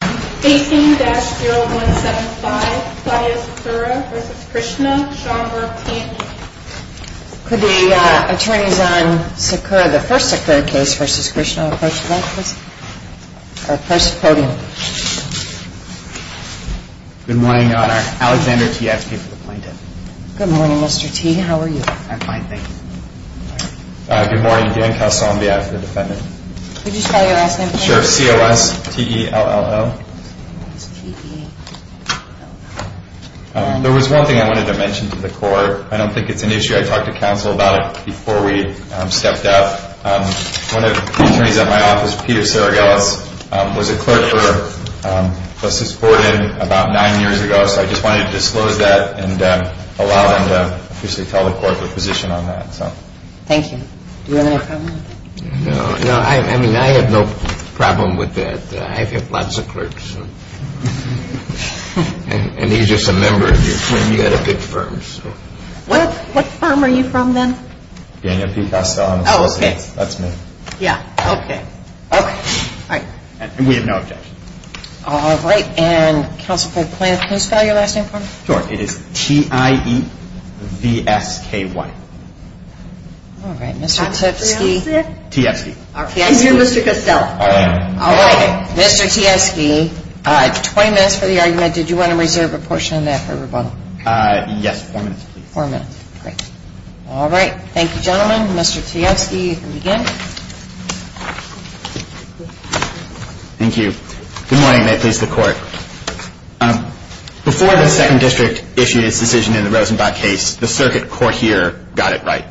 Could the attorneys on the first Sakura case v. Krishna approach the witness, or the first podium? Good morning, Your Honor. Alexander T. asking for the plaintiff. Good morning, Mr. T. How are you? I'm fine, thank you. Good morning. Dan Calsombia, as the defendant. Could you spell your last name, please? I'm sure it's C-O-S-T-E-L-L-O. There was one thing I wanted to mention to the court. I don't think it's an issue. I talked to counsel about it before we stepped up. One of the attorneys at my office, Peter Saragelis, was a clerk for Justice Borden about nine years ago, so I just wanted to disclose that and allow them to tell the court their position on that. Thank you. Do you have any comment? No. I mean, I have no problem with that. I've had lots of clerks. And he's just a member of your firm. You've got a big firm. What firm are you from, then? Daniel P. Costello, I'm a solicitor. That's me. Yeah, okay. Okay. All right. And we have no objection. All right. And counsel for the plaintiff, can you spell your last name for me? Sure. It is T-I-E-V-S-K-Y. All right. Mr. Tipsky? T-S-K-Y. He's here, Mr. Costello. All right. All right. Mr. T-S-K-Y, 20 minutes for the argument. Did you want to reserve a portion of that for rebuttal? Yes, four minutes, please. Four minutes. Great. All right. Thank you, gentlemen. Mr. T-S-K-Y, you can begin. Thank you. Good morning, and may it please the Court. Before the 2nd District issued its decision in the Rosenbach case, the circuit court here got it right.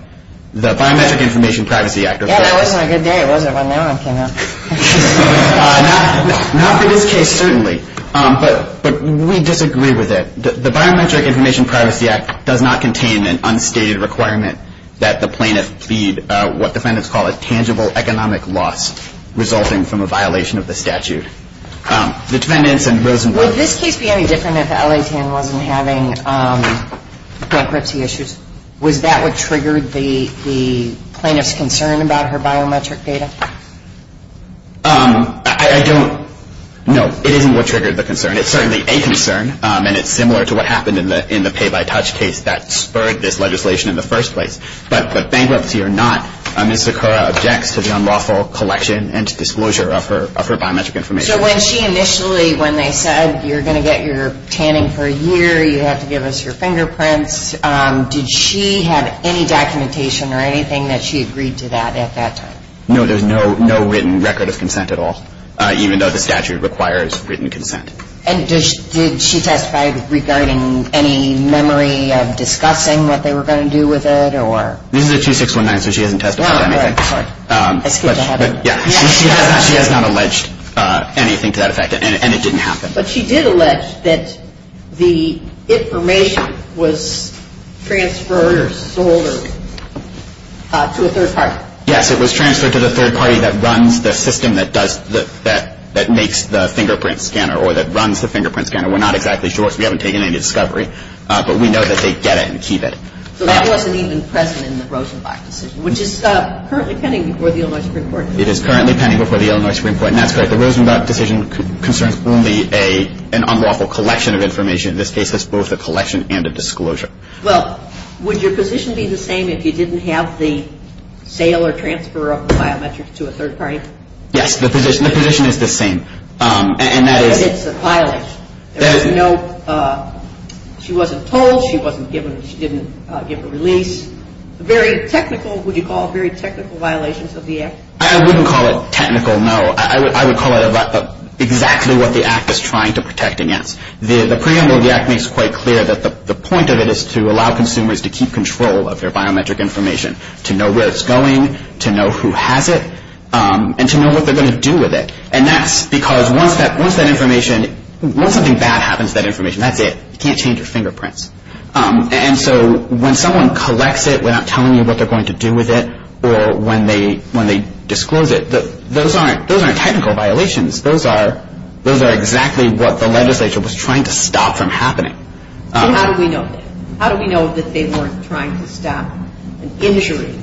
The Biometric Information Privacy Act- Yeah, that wasn't a good day, was it, when that one came out? Not for this case, certainly. But we disagree with it. The Biometric Information Privacy Act does not contain an unstated requirement that the plaintiff plead what defendants call a tangible economic loss resulting from a violation of the statute. The defendants in Rosenbach- Would this case be any different if L.A. Tann wasn't having bankruptcy issues? Was that what triggered the plaintiff's concern about her biometric data? I don't know. It isn't what triggered the concern. It's certainly a concern, and it's similar to what happened in the pay-by-touch case that spurred this legislation in the first place. But bankruptcy or not, Ms. Sakura objects to the unlawful collection and disclosure of her biometric information. So when she initially, when they said you're going to get your tanning for a year, you have to give us your fingerprints, did she have any documentation or anything that she agreed to that at that time? No, there's no written record of consent at all, even though the statute requires written consent. And did she testify regarding any memory of discussing what they were going to do with it or- This is a 2619, so she hasn't testified on anything. Right, right. Yeah, she has not alleged anything to that effect, and it didn't happen. But she did allege that the information was transferred or sold to a third party. Yes, it was transferred to the third party that runs the system that makes the fingerprint scanner or that runs the fingerprint scanner. We're not exactly sure because we haven't taken any discovery, but we know that they get it and keep it. So that wasn't even present in the Rosenbach decision, which is currently pending before the Illinois Supreme Court. It is currently pending before the Illinois Supreme Court, and that's correct. The Rosenbach decision concerns only an unlawful collection of information. In this case, it's both a collection and a disclosure. Well, would your position be the same if you didn't have the sale or transfer of the biometrics to a third party? Yes, the position is the same, and that is- But it's a violation. There was no-she wasn't told, she wasn't given-she didn't give a release. Very technical-would you call it very technical violations of the Act? I wouldn't call it technical, no. I would call it exactly what the Act is trying to protect against. The preamble of the Act makes quite clear that the point of it is to allow consumers to keep control of their biometric information, to know where it's going, to know who has it, and to know what they're going to do with it. And that's because once that information- once something bad happens to that information, that's it. You can't change your fingerprints. And so when someone collects it without telling you what they're going to do with it or when they disclose it, those aren't technical violations. Those are exactly what the legislature was trying to stop from happening. So how do we know that? How do we know that they weren't trying to stop an injury,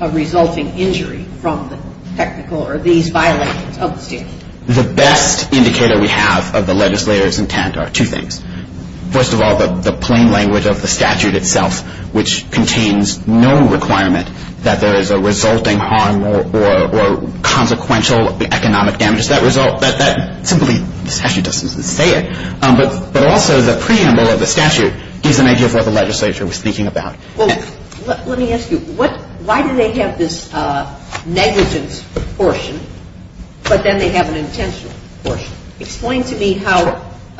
a resulting injury from the technical or these violations of the statute? The best indicator we have of the legislature's intent are two things. First of all, the plain language of the statute itself, which contains no requirement that there is a resulting harm or consequential economic damage. That result-that simply-the statute doesn't say it. But also the preamble of the statute gives an idea of what the legislature was thinking about. Well, let me ask you, why do they have this negligence portion, but then they have an intentional portion? Explain to me how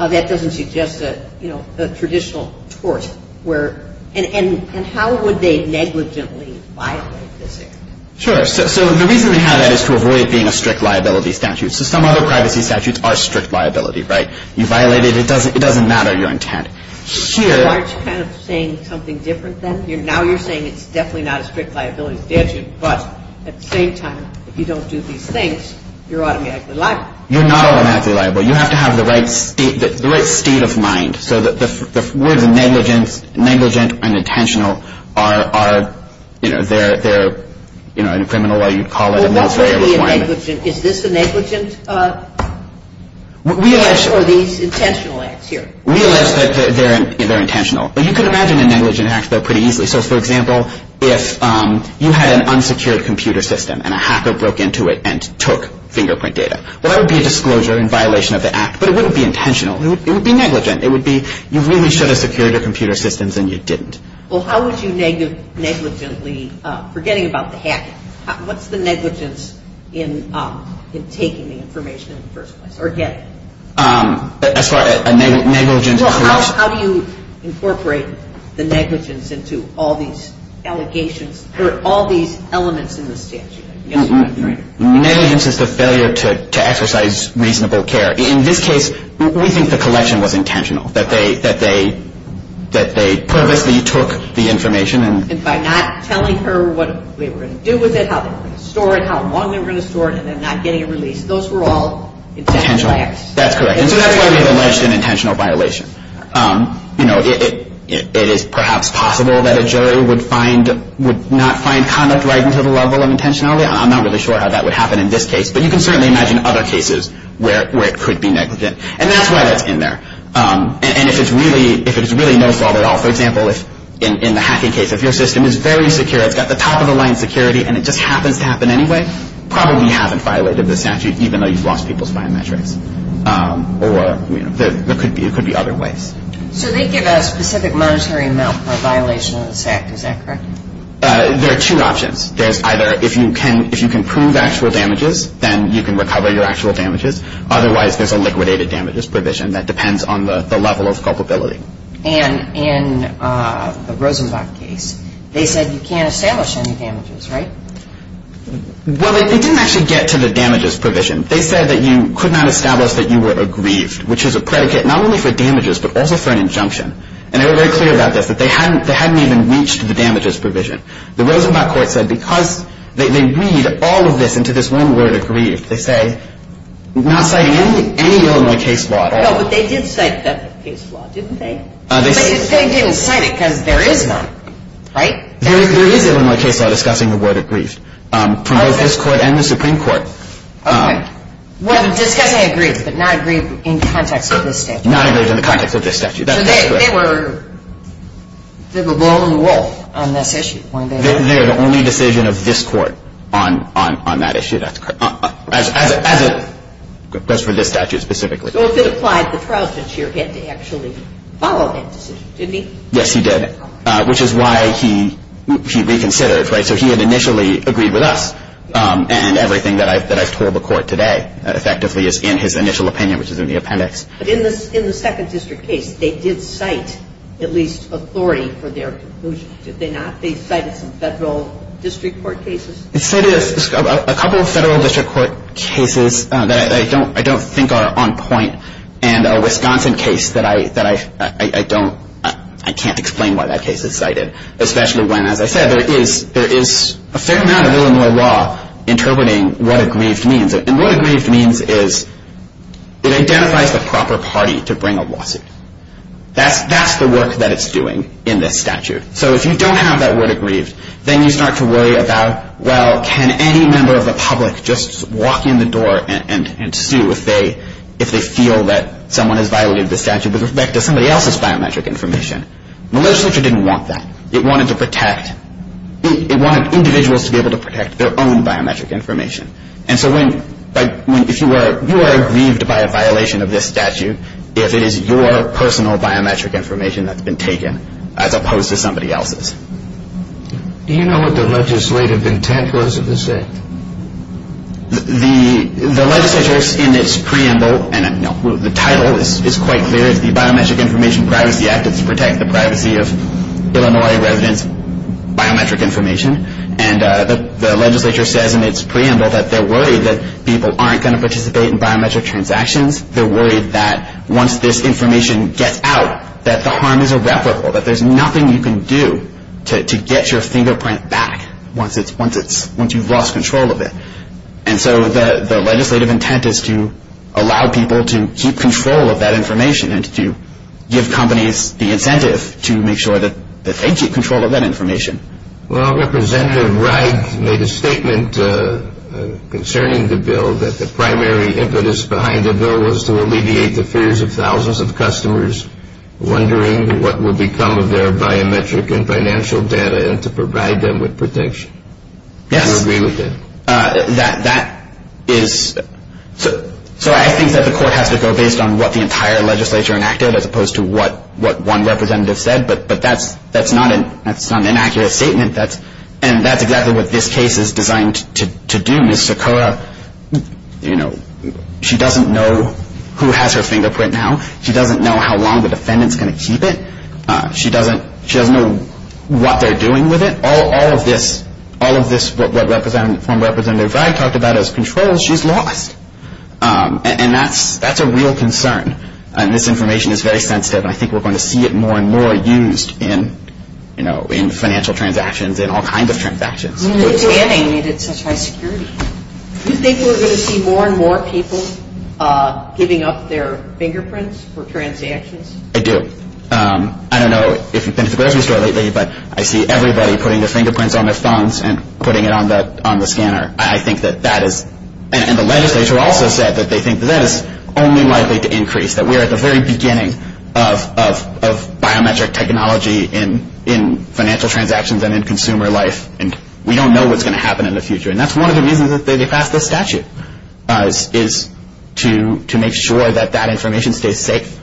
that doesn't suggest a traditional tort where- and how would they negligently violate this act? Sure. So the reason we have that is to avoid it being a strict liability statute. So some other privacy statutes are strict liability, right? You violate it, it doesn't matter your intent. Sure. Aren't you kind of saying something different then? Now you're saying it's definitely not a strict liability statute, but at the same time, if you don't do these things, you're automatically liable. You're not automatically liable. You have to have the right state of mind. So the words negligence, negligent, and intentional are, you know, they're, you know, in a criminal way you'd call it a military requirement. Well, what would be a negligent? Is this a negligent or these intentional acts here? Realize that they're intentional. But you can imagine a negligent act though pretty easily. So, for example, if you had an unsecured computer system and a hacker broke into it and took fingerprint data. Well, that would be a disclosure in violation of the act, but it wouldn't be intentional, it would be negligent. It would be you really should have secured your computer systems and you didn't. Well, how would you negligently, forgetting about the hacking, what's the negligence in taking the information in the first place or getting it? As far as a negligent. Well, how do you incorporate the negligence into all these allegations or all these elements in the statute? Negligence is the failure to exercise reasonable care. In this case, we think the collection was intentional, that they purposely took the information. And by not telling her what they were going to do with it, how they were going to store it, how long they were going to store it, and then not getting it released. Those were all intentional acts. That's correct. And so that's why we have alleged an intentional violation. You know, it is perhaps possible that a jury would not find conduct right into the level of intentionality. I'm not really sure how that would happen in this case, but you can certainly imagine other cases where it could be negligent. And that's why that's in there. And if it's really no fault at all, for example, in the hacking case, if your system is very secure, it's got the top-of-the-line security and it just happens to happen anyway, you probably haven't violated the statute, even though you've lost people's biometrics. Or, you know, there could be other ways. So they give a specific monetary amount for a violation of this act. Is that correct? There are two options. There's either if you can prove actual damages, then you can recover your actual damages. Otherwise, there's a liquidated damages provision that depends on the level of culpability. And in the Rosenbach case, they said you can't establish any damages, right? Well, they didn't actually get to the damages provision. They said that you could not establish that you were aggrieved, which is a predicate not only for damages but also for an injunction. And they were very clear about this, that they hadn't even reached the damages provision. The Rosenbach court said because they read all of this into this one word, aggrieved, they say not citing any Illinois case law at all. No, but they did cite a definite case law, didn't they? But they didn't cite it because there is none, right? There is Illinois case law discussing the word aggrieved from both this court and the Supreme Court. Okay. Discussing aggrieved but not aggrieved in context of this statute. Not aggrieved in the context of this statute. That's correct. So they were blowing the wool on this issue, weren't they? They're the only decision of this court on that issue. That's correct. That's for this statute specifically. So if it applied, the President here had to actually follow that decision, didn't he? Yes, he did. Which is why he reconsidered, right? So he had initially agreed with us and everything that I've told the court today effectively is in his initial opinion, which is in the appendix. But in the second district case, they did cite at least authority for their conclusion, did they not? They cited some federal district court cases? They cited a couple of federal district court cases that I don't think are on point and a Wisconsin case that I can't explain why that case is cited, especially when, as I said, there is a fair amount of Illinois law interpreting what aggrieved means. And what aggrieved means is it identifies the proper party to bring a lawsuit. That's the work that it's doing in this statute. So if you don't have that word aggrieved, then you start to worry about, well, can any member of the public just walk in the door and sue if they feel that someone has violated the statute with respect to somebody else's biometric information? Legislature didn't want that. It wanted individuals to be able to protect their own biometric information. And so if you are aggrieved by a violation of this statute, if it is your personal biometric information that's been taken as opposed to somebody else's. Do you know what the legislative intent was of this act? The legislature, in its preamble, and the title is quite clear. It's the Biometric Information Privacy Act. It's to protect the privacy of Illinois residents' biometric information. And the legislature says in its preamble that they're worried that people aren't going to participate in biometric transactions. They're worried that once this information gets out, that the harm is irreparable, that there's nothing you can do to get your fingerprint back once you've lost control of it. And so the legislative intent is to allow people to keep control of that information and to give companies the incentive to make sure that they keep control of that information. Well, Representative Wright made a statement concerning the bill that the primary impetus behind the bill was to alleviate the fears of thousands of customers wondering what will become of their biometric and financial data and to provide them with protection. Yes. Do you agree with that? That is – so I think that the court has to go based on what the entire legislature enacted as opposed to what one representative said, but that's not an inaccurate statement. And that's exactly what this case is designed to do. Ms. Sokoa, you know, she doesn't know who has her fingerprint now. She doesn't know how long the defendant's going to keep it. She doesn't know what they're doing with it. All of this, what Representative Wright talked about as controls, she's lost. And that's a real concern, and this information is very sensitive, and I think we're going to see it more and more used in financial transactions and all kinds of transactions. I mean, the scanning made it such high security. Do you think we're going to see more and more people giving up their fingerprints for transactions? I do. I don't know if you've been to the grocery store lately, but I see everybody putting their fingerprints on their phones and putting it on the scanner. I think that that is – and the legislature also said that they think that is only likely to increase, that we're at the very beginning of biometric technology in financial transactions and in consumer life, and we don't know what's going to happen in the future. And that's one of the reasons that they passed this statute, is to make sure that that information stays safe.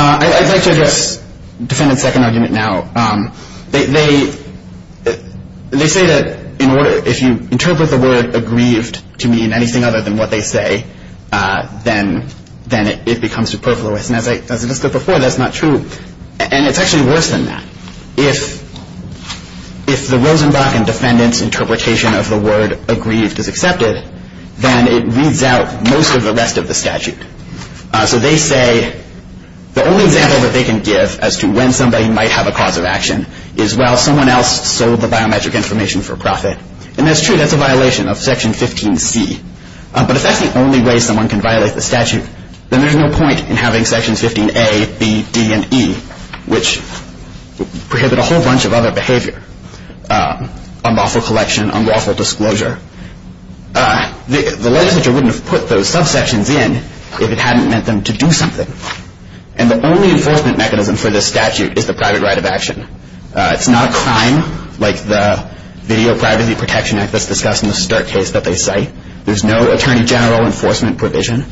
I'd like to address the defendant's second argument now. They say that if you interpret the word aggrieved to mean anything other than what they say, then it becomes superfluous. And as I just said before, that's not true. And it's actually worse than that. If the Rosenbach and defendant's interpretation of the word aggrieved is accepted, then it reads out most of the rest of the statute. So they say the only example that they can give as to when somebody might have a cause of action is while someone else sold the biometric information for profit. And that's true. That's a violation of Section 15C. But if that's the only way someone can violate the statute, then there's no point in having Sections 15A, B, D, and E, which prohibit a whole bunch of other behavior, unlawful collection, unlawful disclosure. The legislature wouldn't have put those subsections in if it hadn't meant them to do something. And the only enforcement mechanism for this statute is the private right of action. It's not a crime like the Video Privacy Protection Act that's discussed in the Sturt case that they cite. There's no attorney general enforcement provision.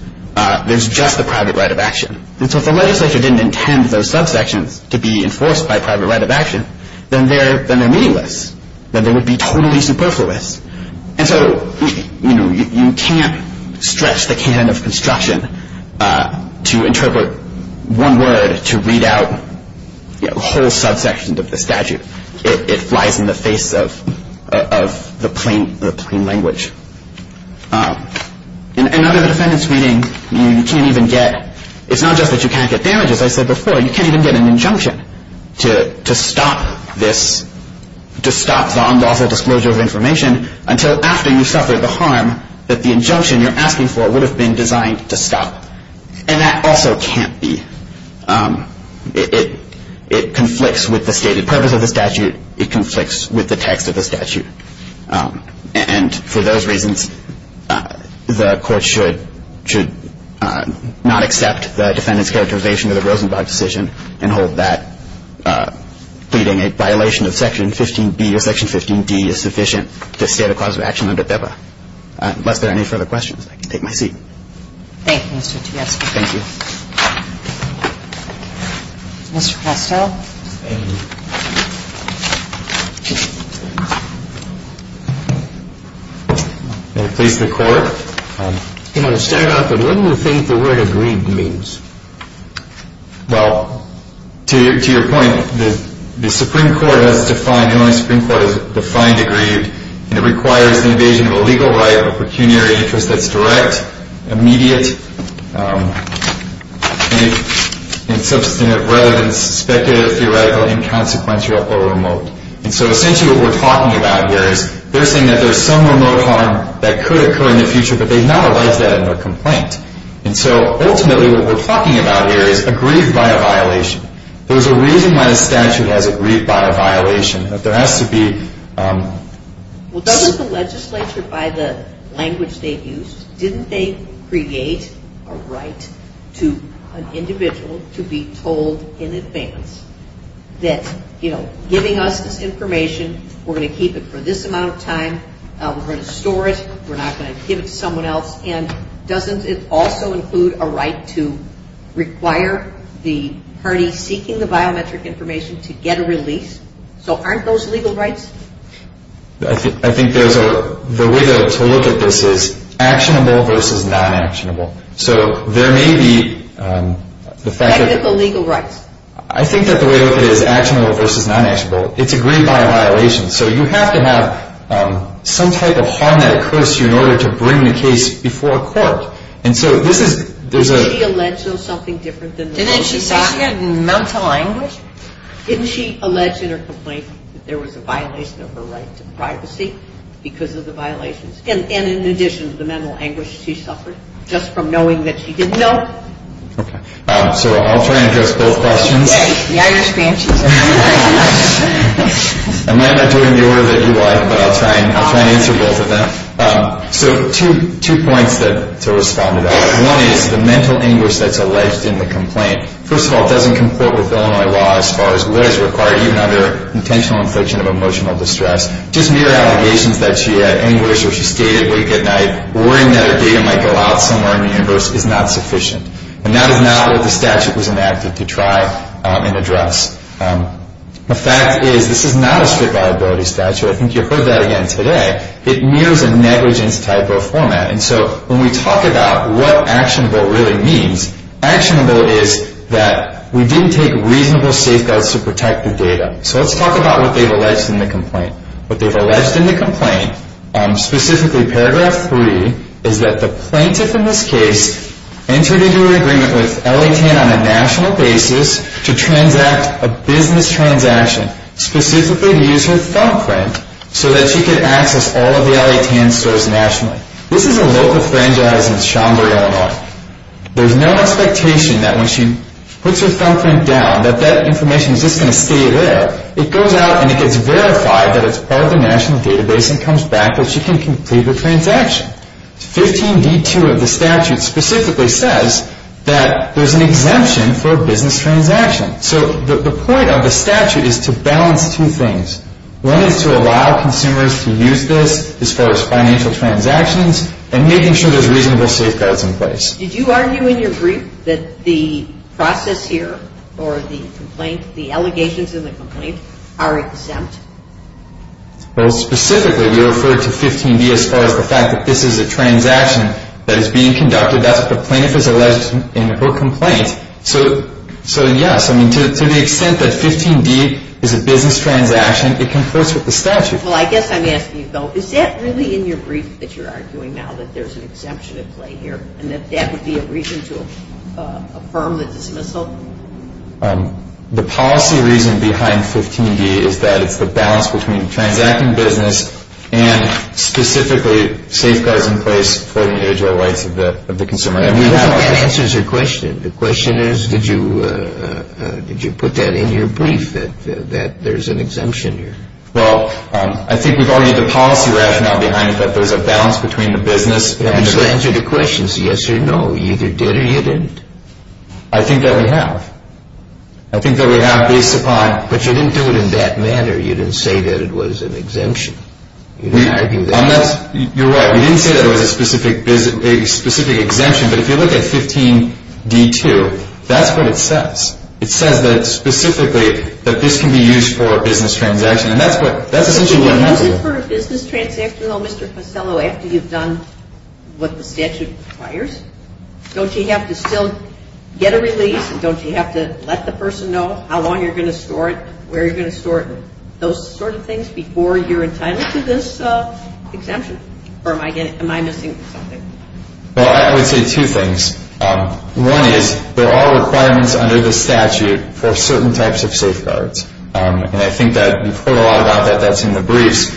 There's just the private right of action. And so if the legislature didn't intend those subsections to be enforced by private right of action, then they're meaningless. Then they would be totally superfluous. And so you can't stretch the can of construction to interpret one word to read out a whole subsection of the statute. It flies in the face of the plain language. In another defendant's reading, you can't even get – it's not just that you can't get damages. As I said before, you can't even get an injunction to stop this – to stop the unlawful disclosure of information until after you've suffered the harm that the injunction you're asking for would have been designed to stop. And that also can't be – it conflicts with the stated purpose of the statute. It conflicts with the text of the statute. And for those reasons, the court should not accept the defendant's characterization of the Rosenblatt decision and hold that pleading a violation of Section 15b or Section 15d is sufficient to state a cause of action under PEPA. Unless there are any further questions, I can take my seat. Thank you, Mr. Tiasco. Thank you. Mr. Costell. Thank you. May it please the Court. I'm going to start off with what do you think the word agreed means? Well, to your point, the Supreme Court has defined – the only Supreme Court that has defined agreed and it requires the invasion of a legal right of a pecuniary interest that's direct, immediate, and substantive rather than suspective, theoretical, inconsequential, or remote. And so essentially what we're talking about here is they're saying that there's some remote harm that could occur in the future, but they've not alleged that in their complaint. And so ultimately what we're talking about here is agreed by a violation. There's a reason why the statute has agreed by a violation. There has to be – Well, doesn't the legislature, by the language they've used, didn't they create a right to an individual to be told in advance that, you know, giving us this information, we're going to keep it for this amount of time, we're going to store it, we're not going to give it to someone else, and doesn't it also include a right to require the party seeking the biometric information to get a release? So aren't those legal rights? I think there's a – the way to look at this is actionable versus non-actionable. So there may be the fact that – Technical legal rights. I think that the way to look at it is actionable versus non-actionable. It's agreed by a violation. So you have to have some type of harm that occurs to you in order to bring the case before a court. And so this is – there's a – Didn't she allege something different than – Didn't she say it in mental language? Didn't she allege in her complaint that there was a violation of her right to privacy because of the violations? And in addition to the mental anguish she suffered just from knowing that she didn't know? Okay. So I'll try and address both questions. Okay. Yeah, I understand. I might not do it in the order that you like, but I'll try and answer both of them. So two points to respond to that. One is the mental anguish that's alleged in the complaint. First of all, it doesn't comport with Illinois law as far as what is required, even under intentional infliction of emotional distress. Just mere allegations that she had anguish or she stayed awake at night, worrying that her data might go out somewhere in the universe is not sufficient. And that is not what the statute was enacted to try and address. The fact is this is not a strict liability statute. I think you heard that again today. It mirrors a negligence type of format. And so when we talk about what actionable really means, actionable is that we didn't take reasonable safeguards to protect the data. So let's talk about what they've alleged in the complaint. What they've alleged in the complaint, specifically Paragraph 3, is that the plaintiff in this case entered into an agreement with L.A. Tan on a national basis to transact a business transaction, specifically to use her thumbprint, so that she could access all of the L.A. Tan stores nationally. This is a local franchise in Chandler, Illinois. There's no expectation that when she puts her thumbprint down, that that information is just going to stay there. It goes out and it gets verified that it's part of the national database and comes back that she can complete her transaction. 15d2 of the statute specifically says that there's an exemption for a business transaction. So the point of the statute is to balance two things. One is to allow consumers to use this as far as financial transactions and making sure there's reasonable safeguards in place. Did you argue in your brief that the process here or the complaint, the allegations in the complaint, are exempt? Well, specifically we referred to 15d as far as the fact that this is a transaction that is being conducted. That's what the plaintiff has alleged in her complaint. So yes, to the extent that 15d is a business transaction, it comports with the statute. Well, I guess I'm asking you, though, is that really in your brief that you're arguing now that there's an exemption at play here and that that would be a reason to affirm the dismissal? The policy reason behind 15d is that it's the balance between transacting business and specifically safeguards in place for the individual rights of the consumer. I mean, that answers your question. The question is, did you put that in your brief that there's an exemption here? Well, I think we've argued the policy rationale behind it, that there's a balance between the business and the— We just answered the question. It's a yes or no. You either did or you didn't. I think that we have. I think that we have based upon— But you didn't do it in that manner. You didn't say that it was an exemption. You didn't argue that. You're right. We didn't say that it was a specific exemption, but if you look at 15d-2, that's what it says. It says that specifically that this can be used for a business transaction, and that's essentially what it has to do. If you use it for a business transaction, though, Mr. Costello, after you've done what the statute requires, don't you have to still get a release and don't you have to let the person know how long you're going to store it, where you're going to store it, and those sort of things before you're entitled to this exemption? Or am I missing something? Well, I would say two things. One is there are requirements under the statute for certain types of safeguards, and I think that we've heard a lot about that. That's in the briefs.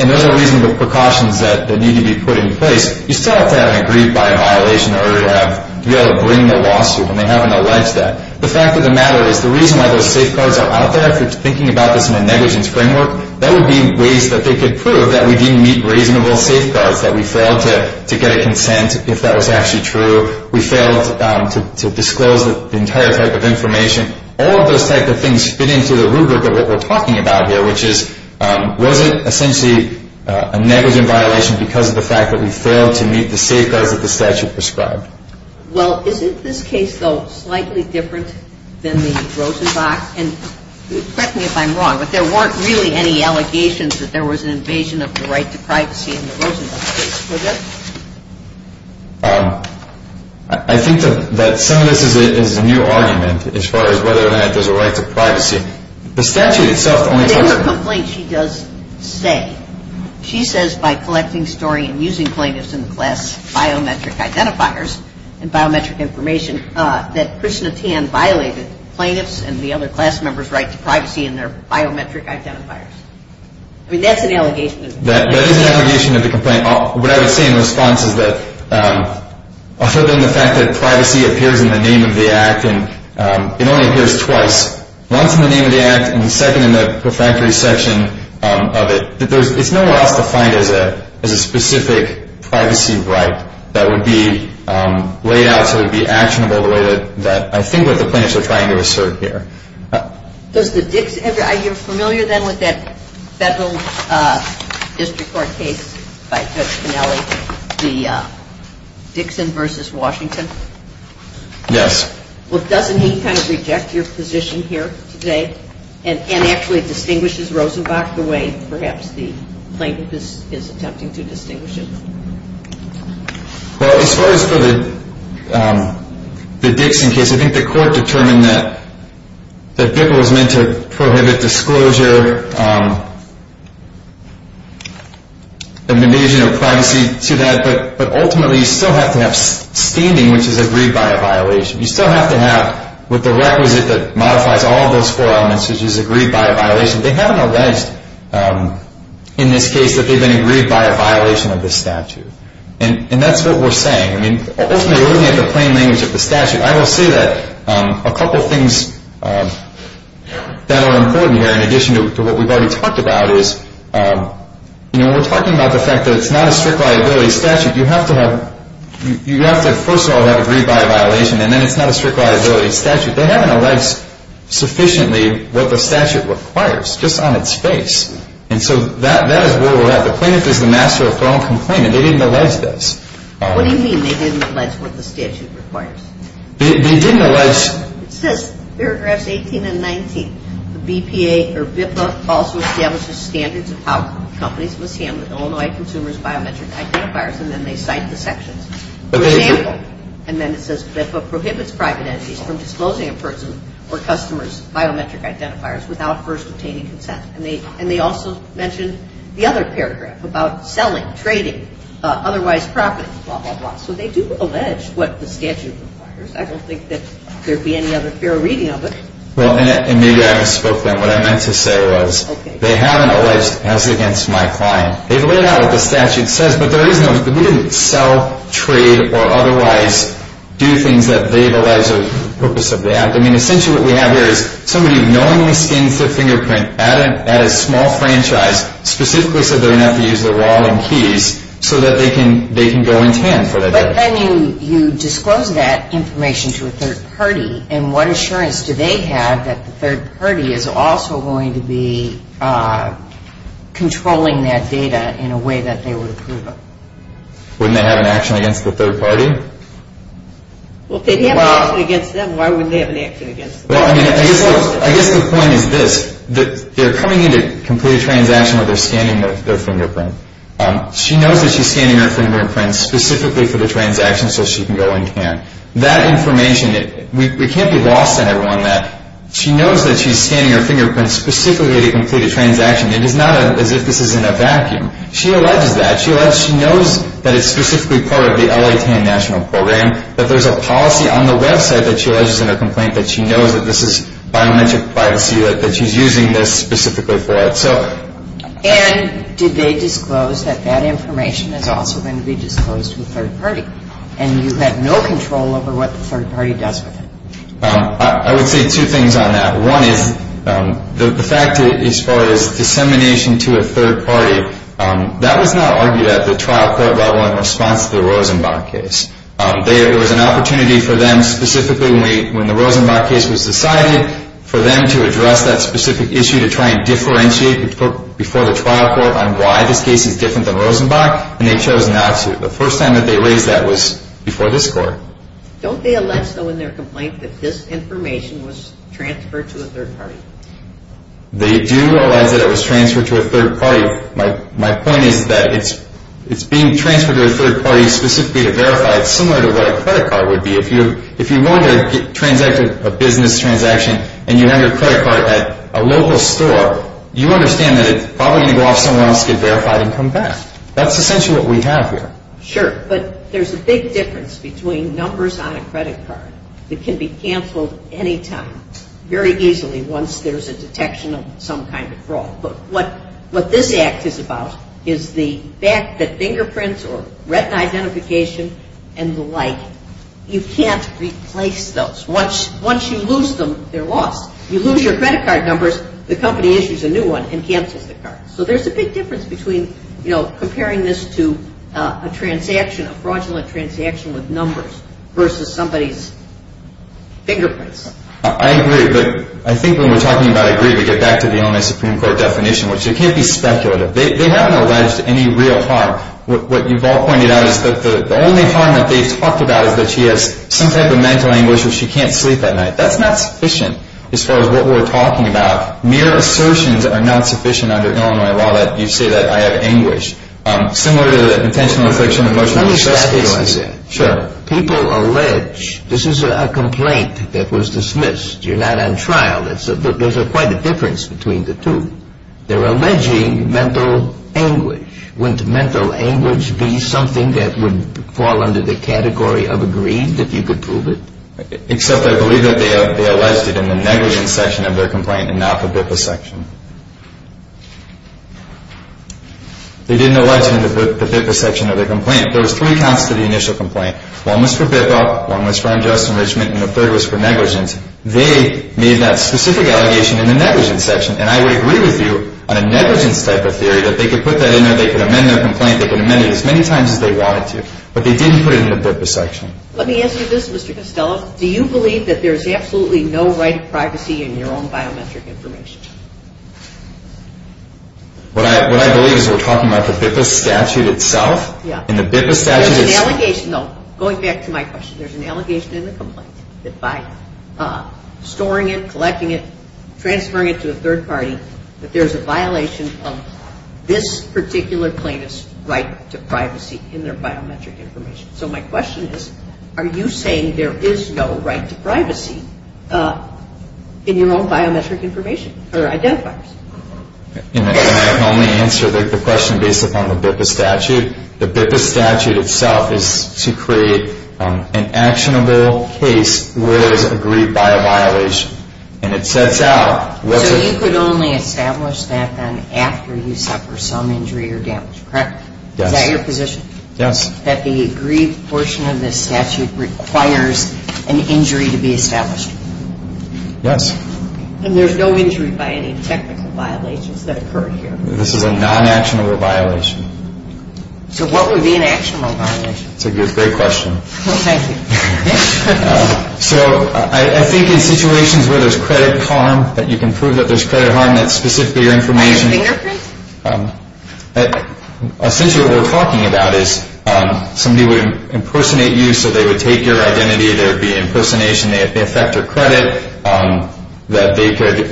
And those are reasonable precautions that need to be put in place. You still have to have an agreed-by violation in order to be able to bring the lawsuit, and they haven't alleged that. The fact of the matter is the reason why those safeguards are out there, if you're thinking about this in a negligence framework, that would be ways that they could prove that we didn't meet reasonable safeguards, that we failed to get a consent if that was actually true, we failed to disclose the entire type of information. All of those type of things fit into the rubric of what we're talking about here, which is was it essentially a negligent violation because of the fact that we failed to meet the safeguards that the statute prescribed? Well, isn't this case, though, slightly different than the Rosenbach? And correct me if I'm wrong, but there weren't really any allegations that there was an invasion of the right to privacy in the Rosenbach case, were there? I think that some of this is a new argument as far as whether or not there's a right to privacy. The statute itself only talks about… In her complaint, she does say, she says by collecting, storing, and using plaintiffs in the class biometric identifiers and biometric information that Krishna Tien violated plaintiffs and the other class members' right to privacy in their biometric identifiers. I mean, that's an allegation. That is an allegation of the complaint. What I would say in response is that other than the fact that privacy appears in the name of the act, and it only appears twice, once in the name of the act and the second in the perfunctory section of it, it's nowhere else defined as a specific privacy right that would be laid out and possibly be actionable the way that I think what the plaintiffs are trying to assert here. You're familiar then with that federal district court case by Judge Minelli, the Dixon v. Washington? Yes. Well, doesn't he kind of reject your position here today and actually distinguishes Rosenbach the way perhaps the plaintiff is attempting to distinguish it? Well, as far as for the Dixon case, I think the court determined that BIPPA was meant to prohibit disclosure of invasion of privacy to that, but ultimately you still have to have standing, which is agreed by a violation. You still have to have what the requisite that modifies all those four elements, which is agreed by a violation. They haven't alleged in this case that they've been agreed by a violation of this statute, and that's what we're saying. I mean, ultimately we're looking at the plain language of the statute. I will say that a couple of things that are important here, in addition to what we've already talked about, is when we're talking about the fact that it's not a strict liability statute, you have to first of all have agreed by a violation, and then it's not a strict liability statute. They haven't alleged sufficiently what the statute requires just on its face, and so that is where we're at. The plaintiff is the master of their own complaint, and they didn't allege this. What do you mean they didn't allege what the statute requires? They didn't allege. It says paragraphs 18 and 19. The BPA or BIPPA also establishes standards of how companies must handle Illinois consumers' biometric identifiers, and then they cite the sections. For example, and then it says BIPPA prohibits private entities from disclosing a person or customer's biometric identifiers without first obtaining consent, and they also mention the other paragraph about selling, trading, otherwise profiting, blah, blah, blah. So they do allege what the statute requires. I don't think that there would be any other fair reading of it. Well, and maybe I misspoke then. What I meant to say was they haven't alleged as against my client. They've laid out what the statute says, but we didn't sell, trade, or otherwise do things that they've alleged are the purpose of the act. I mean, essentially what we have here is somebody knowingly skins their fingerprint at a small franchise, specifically so they don't have to use their wallet and keys, so that they can go intent for that data. But then you disclose that information to a third party, and what assurance do they have that the third party is also going to be controlling that data in a way that they would approve of? Wouldn't they have an action against the third party? Well, if they'd have an action against them, why wouldn't they have an action against them? Well, I mean, I guess the point is this. They're coming in to complete a transaction where they're skinning their fingerprint. She knows that she's skinning her fingerprint specifically for the transaction so she can go intent. That information, we can't be lost on everyone that she knows that she's skinning her fingerprint specifically to complete a transaction. It is not as if this is in a vacuum. She alleges that. She knows that it's specifically part of the L.A. TAN national program, that there's a policy on the website that she alleges in her complaint that she knows that this is biometric privacy, that she's using this specifically for it. And did they disclose that that information is also going to be disclosed to a third party? And you have no control over what the third party does with it. I would say two things on that. One is the fact as far as dissemination to a third party, that was not argued at the trial court level in response to the Rosenbach case. There was an opportunity for them specifically when the Rosenbach case was decided for them to address that specific issue to try and differentiate before the trial court on why this case is different than Rosenbach, and they chose not to. The first time that they raised that was before this court. Don't they allege, though, in their complaint that this information was transferred to a third party? They do allege that it was transferred to a third party. My point is that it's being transferred to a third party specifically to verify it, similar to what a credit card would be. If you wanted to transact a business transaction and you have your credit card at a local store, you understand that it's probably going to go off somewhere else, get verified, and come back. That's essentially what we have here. Sure, but there's a big difference between numbers on a credit card that can be canceled anytime, very easily once there's a detection of some kind of fraud. But what this Act is about is the fact that fingerprints or retina identification and the like, you can't replace those. Once you lose them, they're lost. You lose your credit card numbers, the company issues a new one and cancels the card. So there's a big difference between comparing this to a transaction, a fraudulent transaction with numbers versus somebody's fingerprints. I agree, but I think when we're talking about agree, we get back to the Illinois Supreme Court definition, which it can't be speculative. They haven't alleged any real harm. What you've all pointed out is that the only harm that they've talked about is that she has some type of mental anguish or she can't sleep at night. That's not sufficient as far as what we're talking about. Mere assertions are not sufficient under Illinois law that you say that I have anguish. Similar to the intentional affliction of emotional distress cases. Let me back to you on that. Sure. People allege this is a complaint that was dismissed. You're not on trial. There's quite a difference between the two. They're alleging mental anguish. Wouldn't mental anguish be something that would fall under the category of agreed, if you could prove it? Except I believe that they alleged it in the negligence section of their complaint and not the BIPA section. They didn't allege it in the BIPA section of their complaint. There was three counts to the initial complaint. One was for BIPA, one was for unjust enrichment, and the third was for negligence. They made that specific allegation in the negligence section. And I would agree with you on a negligence type of theory that they could put that in there, they could amend their complaint, they could amend it as many times as they wanted to. But they didn't put it in the BIPA section. Let me ask you this, Mr. Costello. Do you believe that there's absolutely no right to privacy in your own biometric information? What I believe is we're talking about the BIPA statute itself? Yeah. In the BIPA statute it's... There's an allegation, no, going back to my question, there's an allegation in the complaint that by storing it, collecting it, transferring it to a third party, that there's a violation of this particular plaintiff's right to privacy in their biometric information. So my question is, are you saying there is no right to privacy in your own biometric information or identifiers? And I can only answer the question based upon the BIPA statute. The BIPA statute itself is to create an actionable case where it is agreed by a violation. And it sets out... So you could only establish that then after you suffer some injury or damage, correct? Yes. Is that your position? Yes. That the agreed portion of this statute requires an injury to be established? Yes. And there's no injury by any technical violations that occur here? This is a non-actionable violation. So what would be an actionable violation? That's a great question. Well, thank you. So I think in situations where there's credit harm, that you can prove that there's credit harm, that's specifically your information... Are there fingerprints? Essentially what we're talking about is somebody would impersonate you so they would take your identity, there would be impersonation, they affect your credit, that they could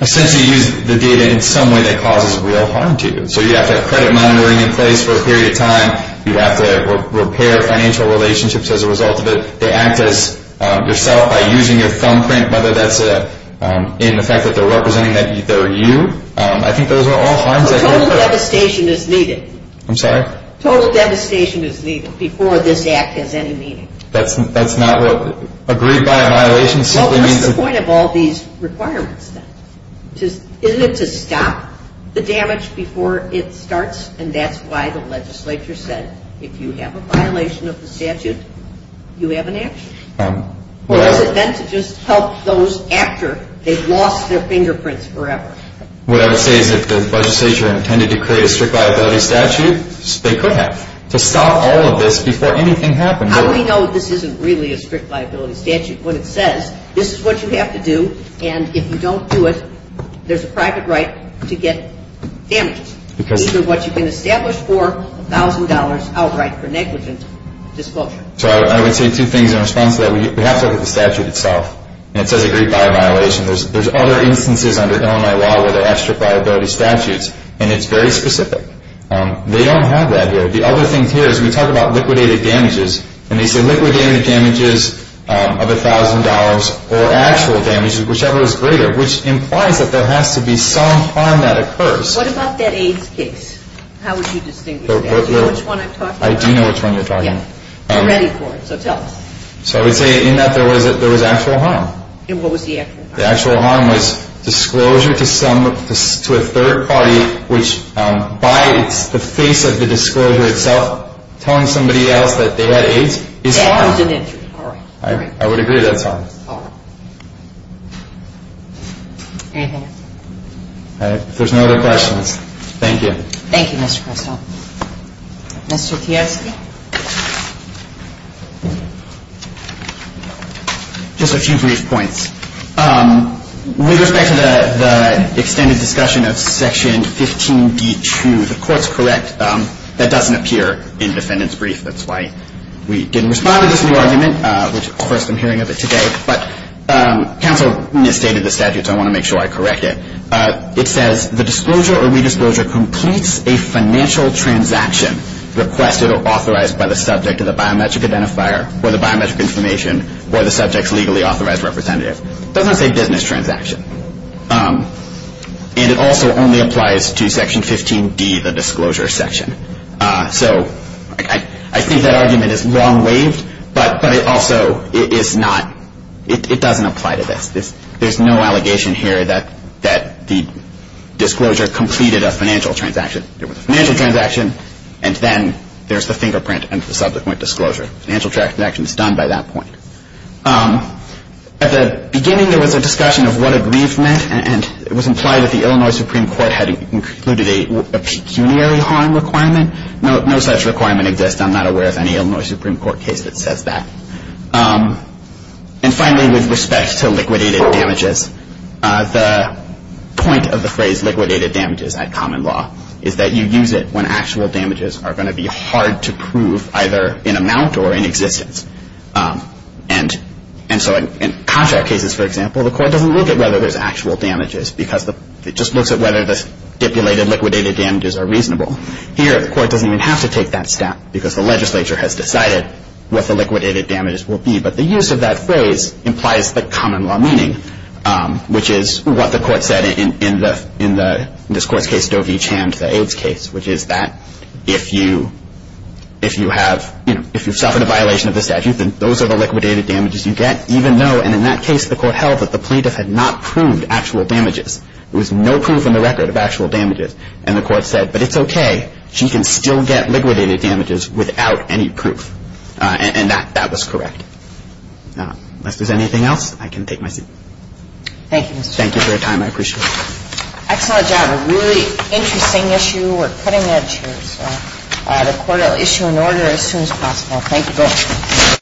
essentially use the data in some way that causes real harm to you. So you'd have to have credit monitoring in place for a period of time, you'd have to repair financial relationships as a result of it, they act as yourself by using your thumbprint, whether that's in the fact that they're representing that they're you. I think those are all harms... Total devastation is needed. I'm sorry? Total devastation is needed before this act has any meaning. That's not what... Agreed by a violation simply means... Well, what's the point of all these requirements then? Isn't it to stop the damage before it starts? And that's why the legislature said if you have a violation of the statute, you have an action? Well... Or is it meant to just help those after they've lost their fingerprints forever? What I would say is if the legislature intended to create a strict liability statute, they could have, to stop all of this before anything happened. How do we know this isn't really a strict liability statute? What it says, this is what you have to do, and if you don't do it, there's a private right to get damages. Because... Either what you've been established for, $1,000 outright for negligent disclosure. So I would say two things in response to that. We have to look at the statute itself, and it says agreed by a violation. There's other instances under Illinois law where there are extra liability statutes, and it's very specific. They don't have that here. The other thing here is we talk about liquidated damages, and they say liquidated damages of $1,000 or actual damages, whichever is greater, which implies that there has to be some harm that occurs. What about that AIDS case? How would you distinguish that? Do you know which one I'm talking about? I do know which one you're talking about. We're ready for it, so tell us. So I would say in that there was actual harm. And what was the actual harm? The actual harm was disclosure to a third party which, by the face of the disclosure itself, telling somebody else that they had AIDS is harm. That was an injury. All right. I would agree that's harm. All right. Anything else? All right. If there's no other questions, thank you. Thank you, Mr. Caruso. Mr. Kiyosaki? Mr. Kiyosaki? Just a few brief points. With respect to the extended discussion of Section 15D2, the court's correct. That doesn't appear in defendant's brief. That's why we didn't respond to this new argument, which, of course, I'm hearing of it today. But counsel misstated the statute, so I want to make sure I correct it. It says the disclosure or redisclosure completes a financial transaction requested or authorized by the subject of the biometric identifier or the biometric information or the subject's legally authorized representative. It doesn't say business transaction. And it also only applies to Section 15D, the disclosure section. So I think that argument is long-waived, but it also is not – it doesn't apply to this. There's no allegation here that the disclosure completed a financial transaction. It was a financial transaction, and then there's the fingerprint and the subsequent disclosure. Financial transaction is done by that point. At the beginning, there was a discussion of what aggrieved meant, and it was implied that the Illinois Supreme Court had included a pecuniary harm requirement. No such requirement exists. I'm not aware of any Illinois Supreme Court case that says that. And finally, with respect to liquidated damages, the point of the phrase liquidated damages at common law is that you use it when actual damages are going to be hard to prove either in amount or in existence. And so in contract cases, for example, the court doesn't look at whether there's actual damages because it just looks at whether the stipulated liquidated damages are reasonable. Here, the court doesn't even have to take that step because the legislature has decided what the liquidated damages will be. But the use of that phrase implies the common law meaning, which is what the court said in this court's case, Doe v. Chand, the AIDS case, which is that if you have – if you've suffered a violation of the statute, then those are the liquidated damages you get, even though – and in that case, the court held that the plaintiff had not proved actual damages. There was no proof in the record of actual damages. And the court said, But it's okay. She can still get liquidated damages without any proof. And that was correct. Unless there's anything else, I can take my seat. Thank you, Mr. Chairman. Thank you for your time. I appreciate it. Excellent job. A really interesting issue. We're cutting edge here. So the court will issue an order as soon as possible. Thank you both.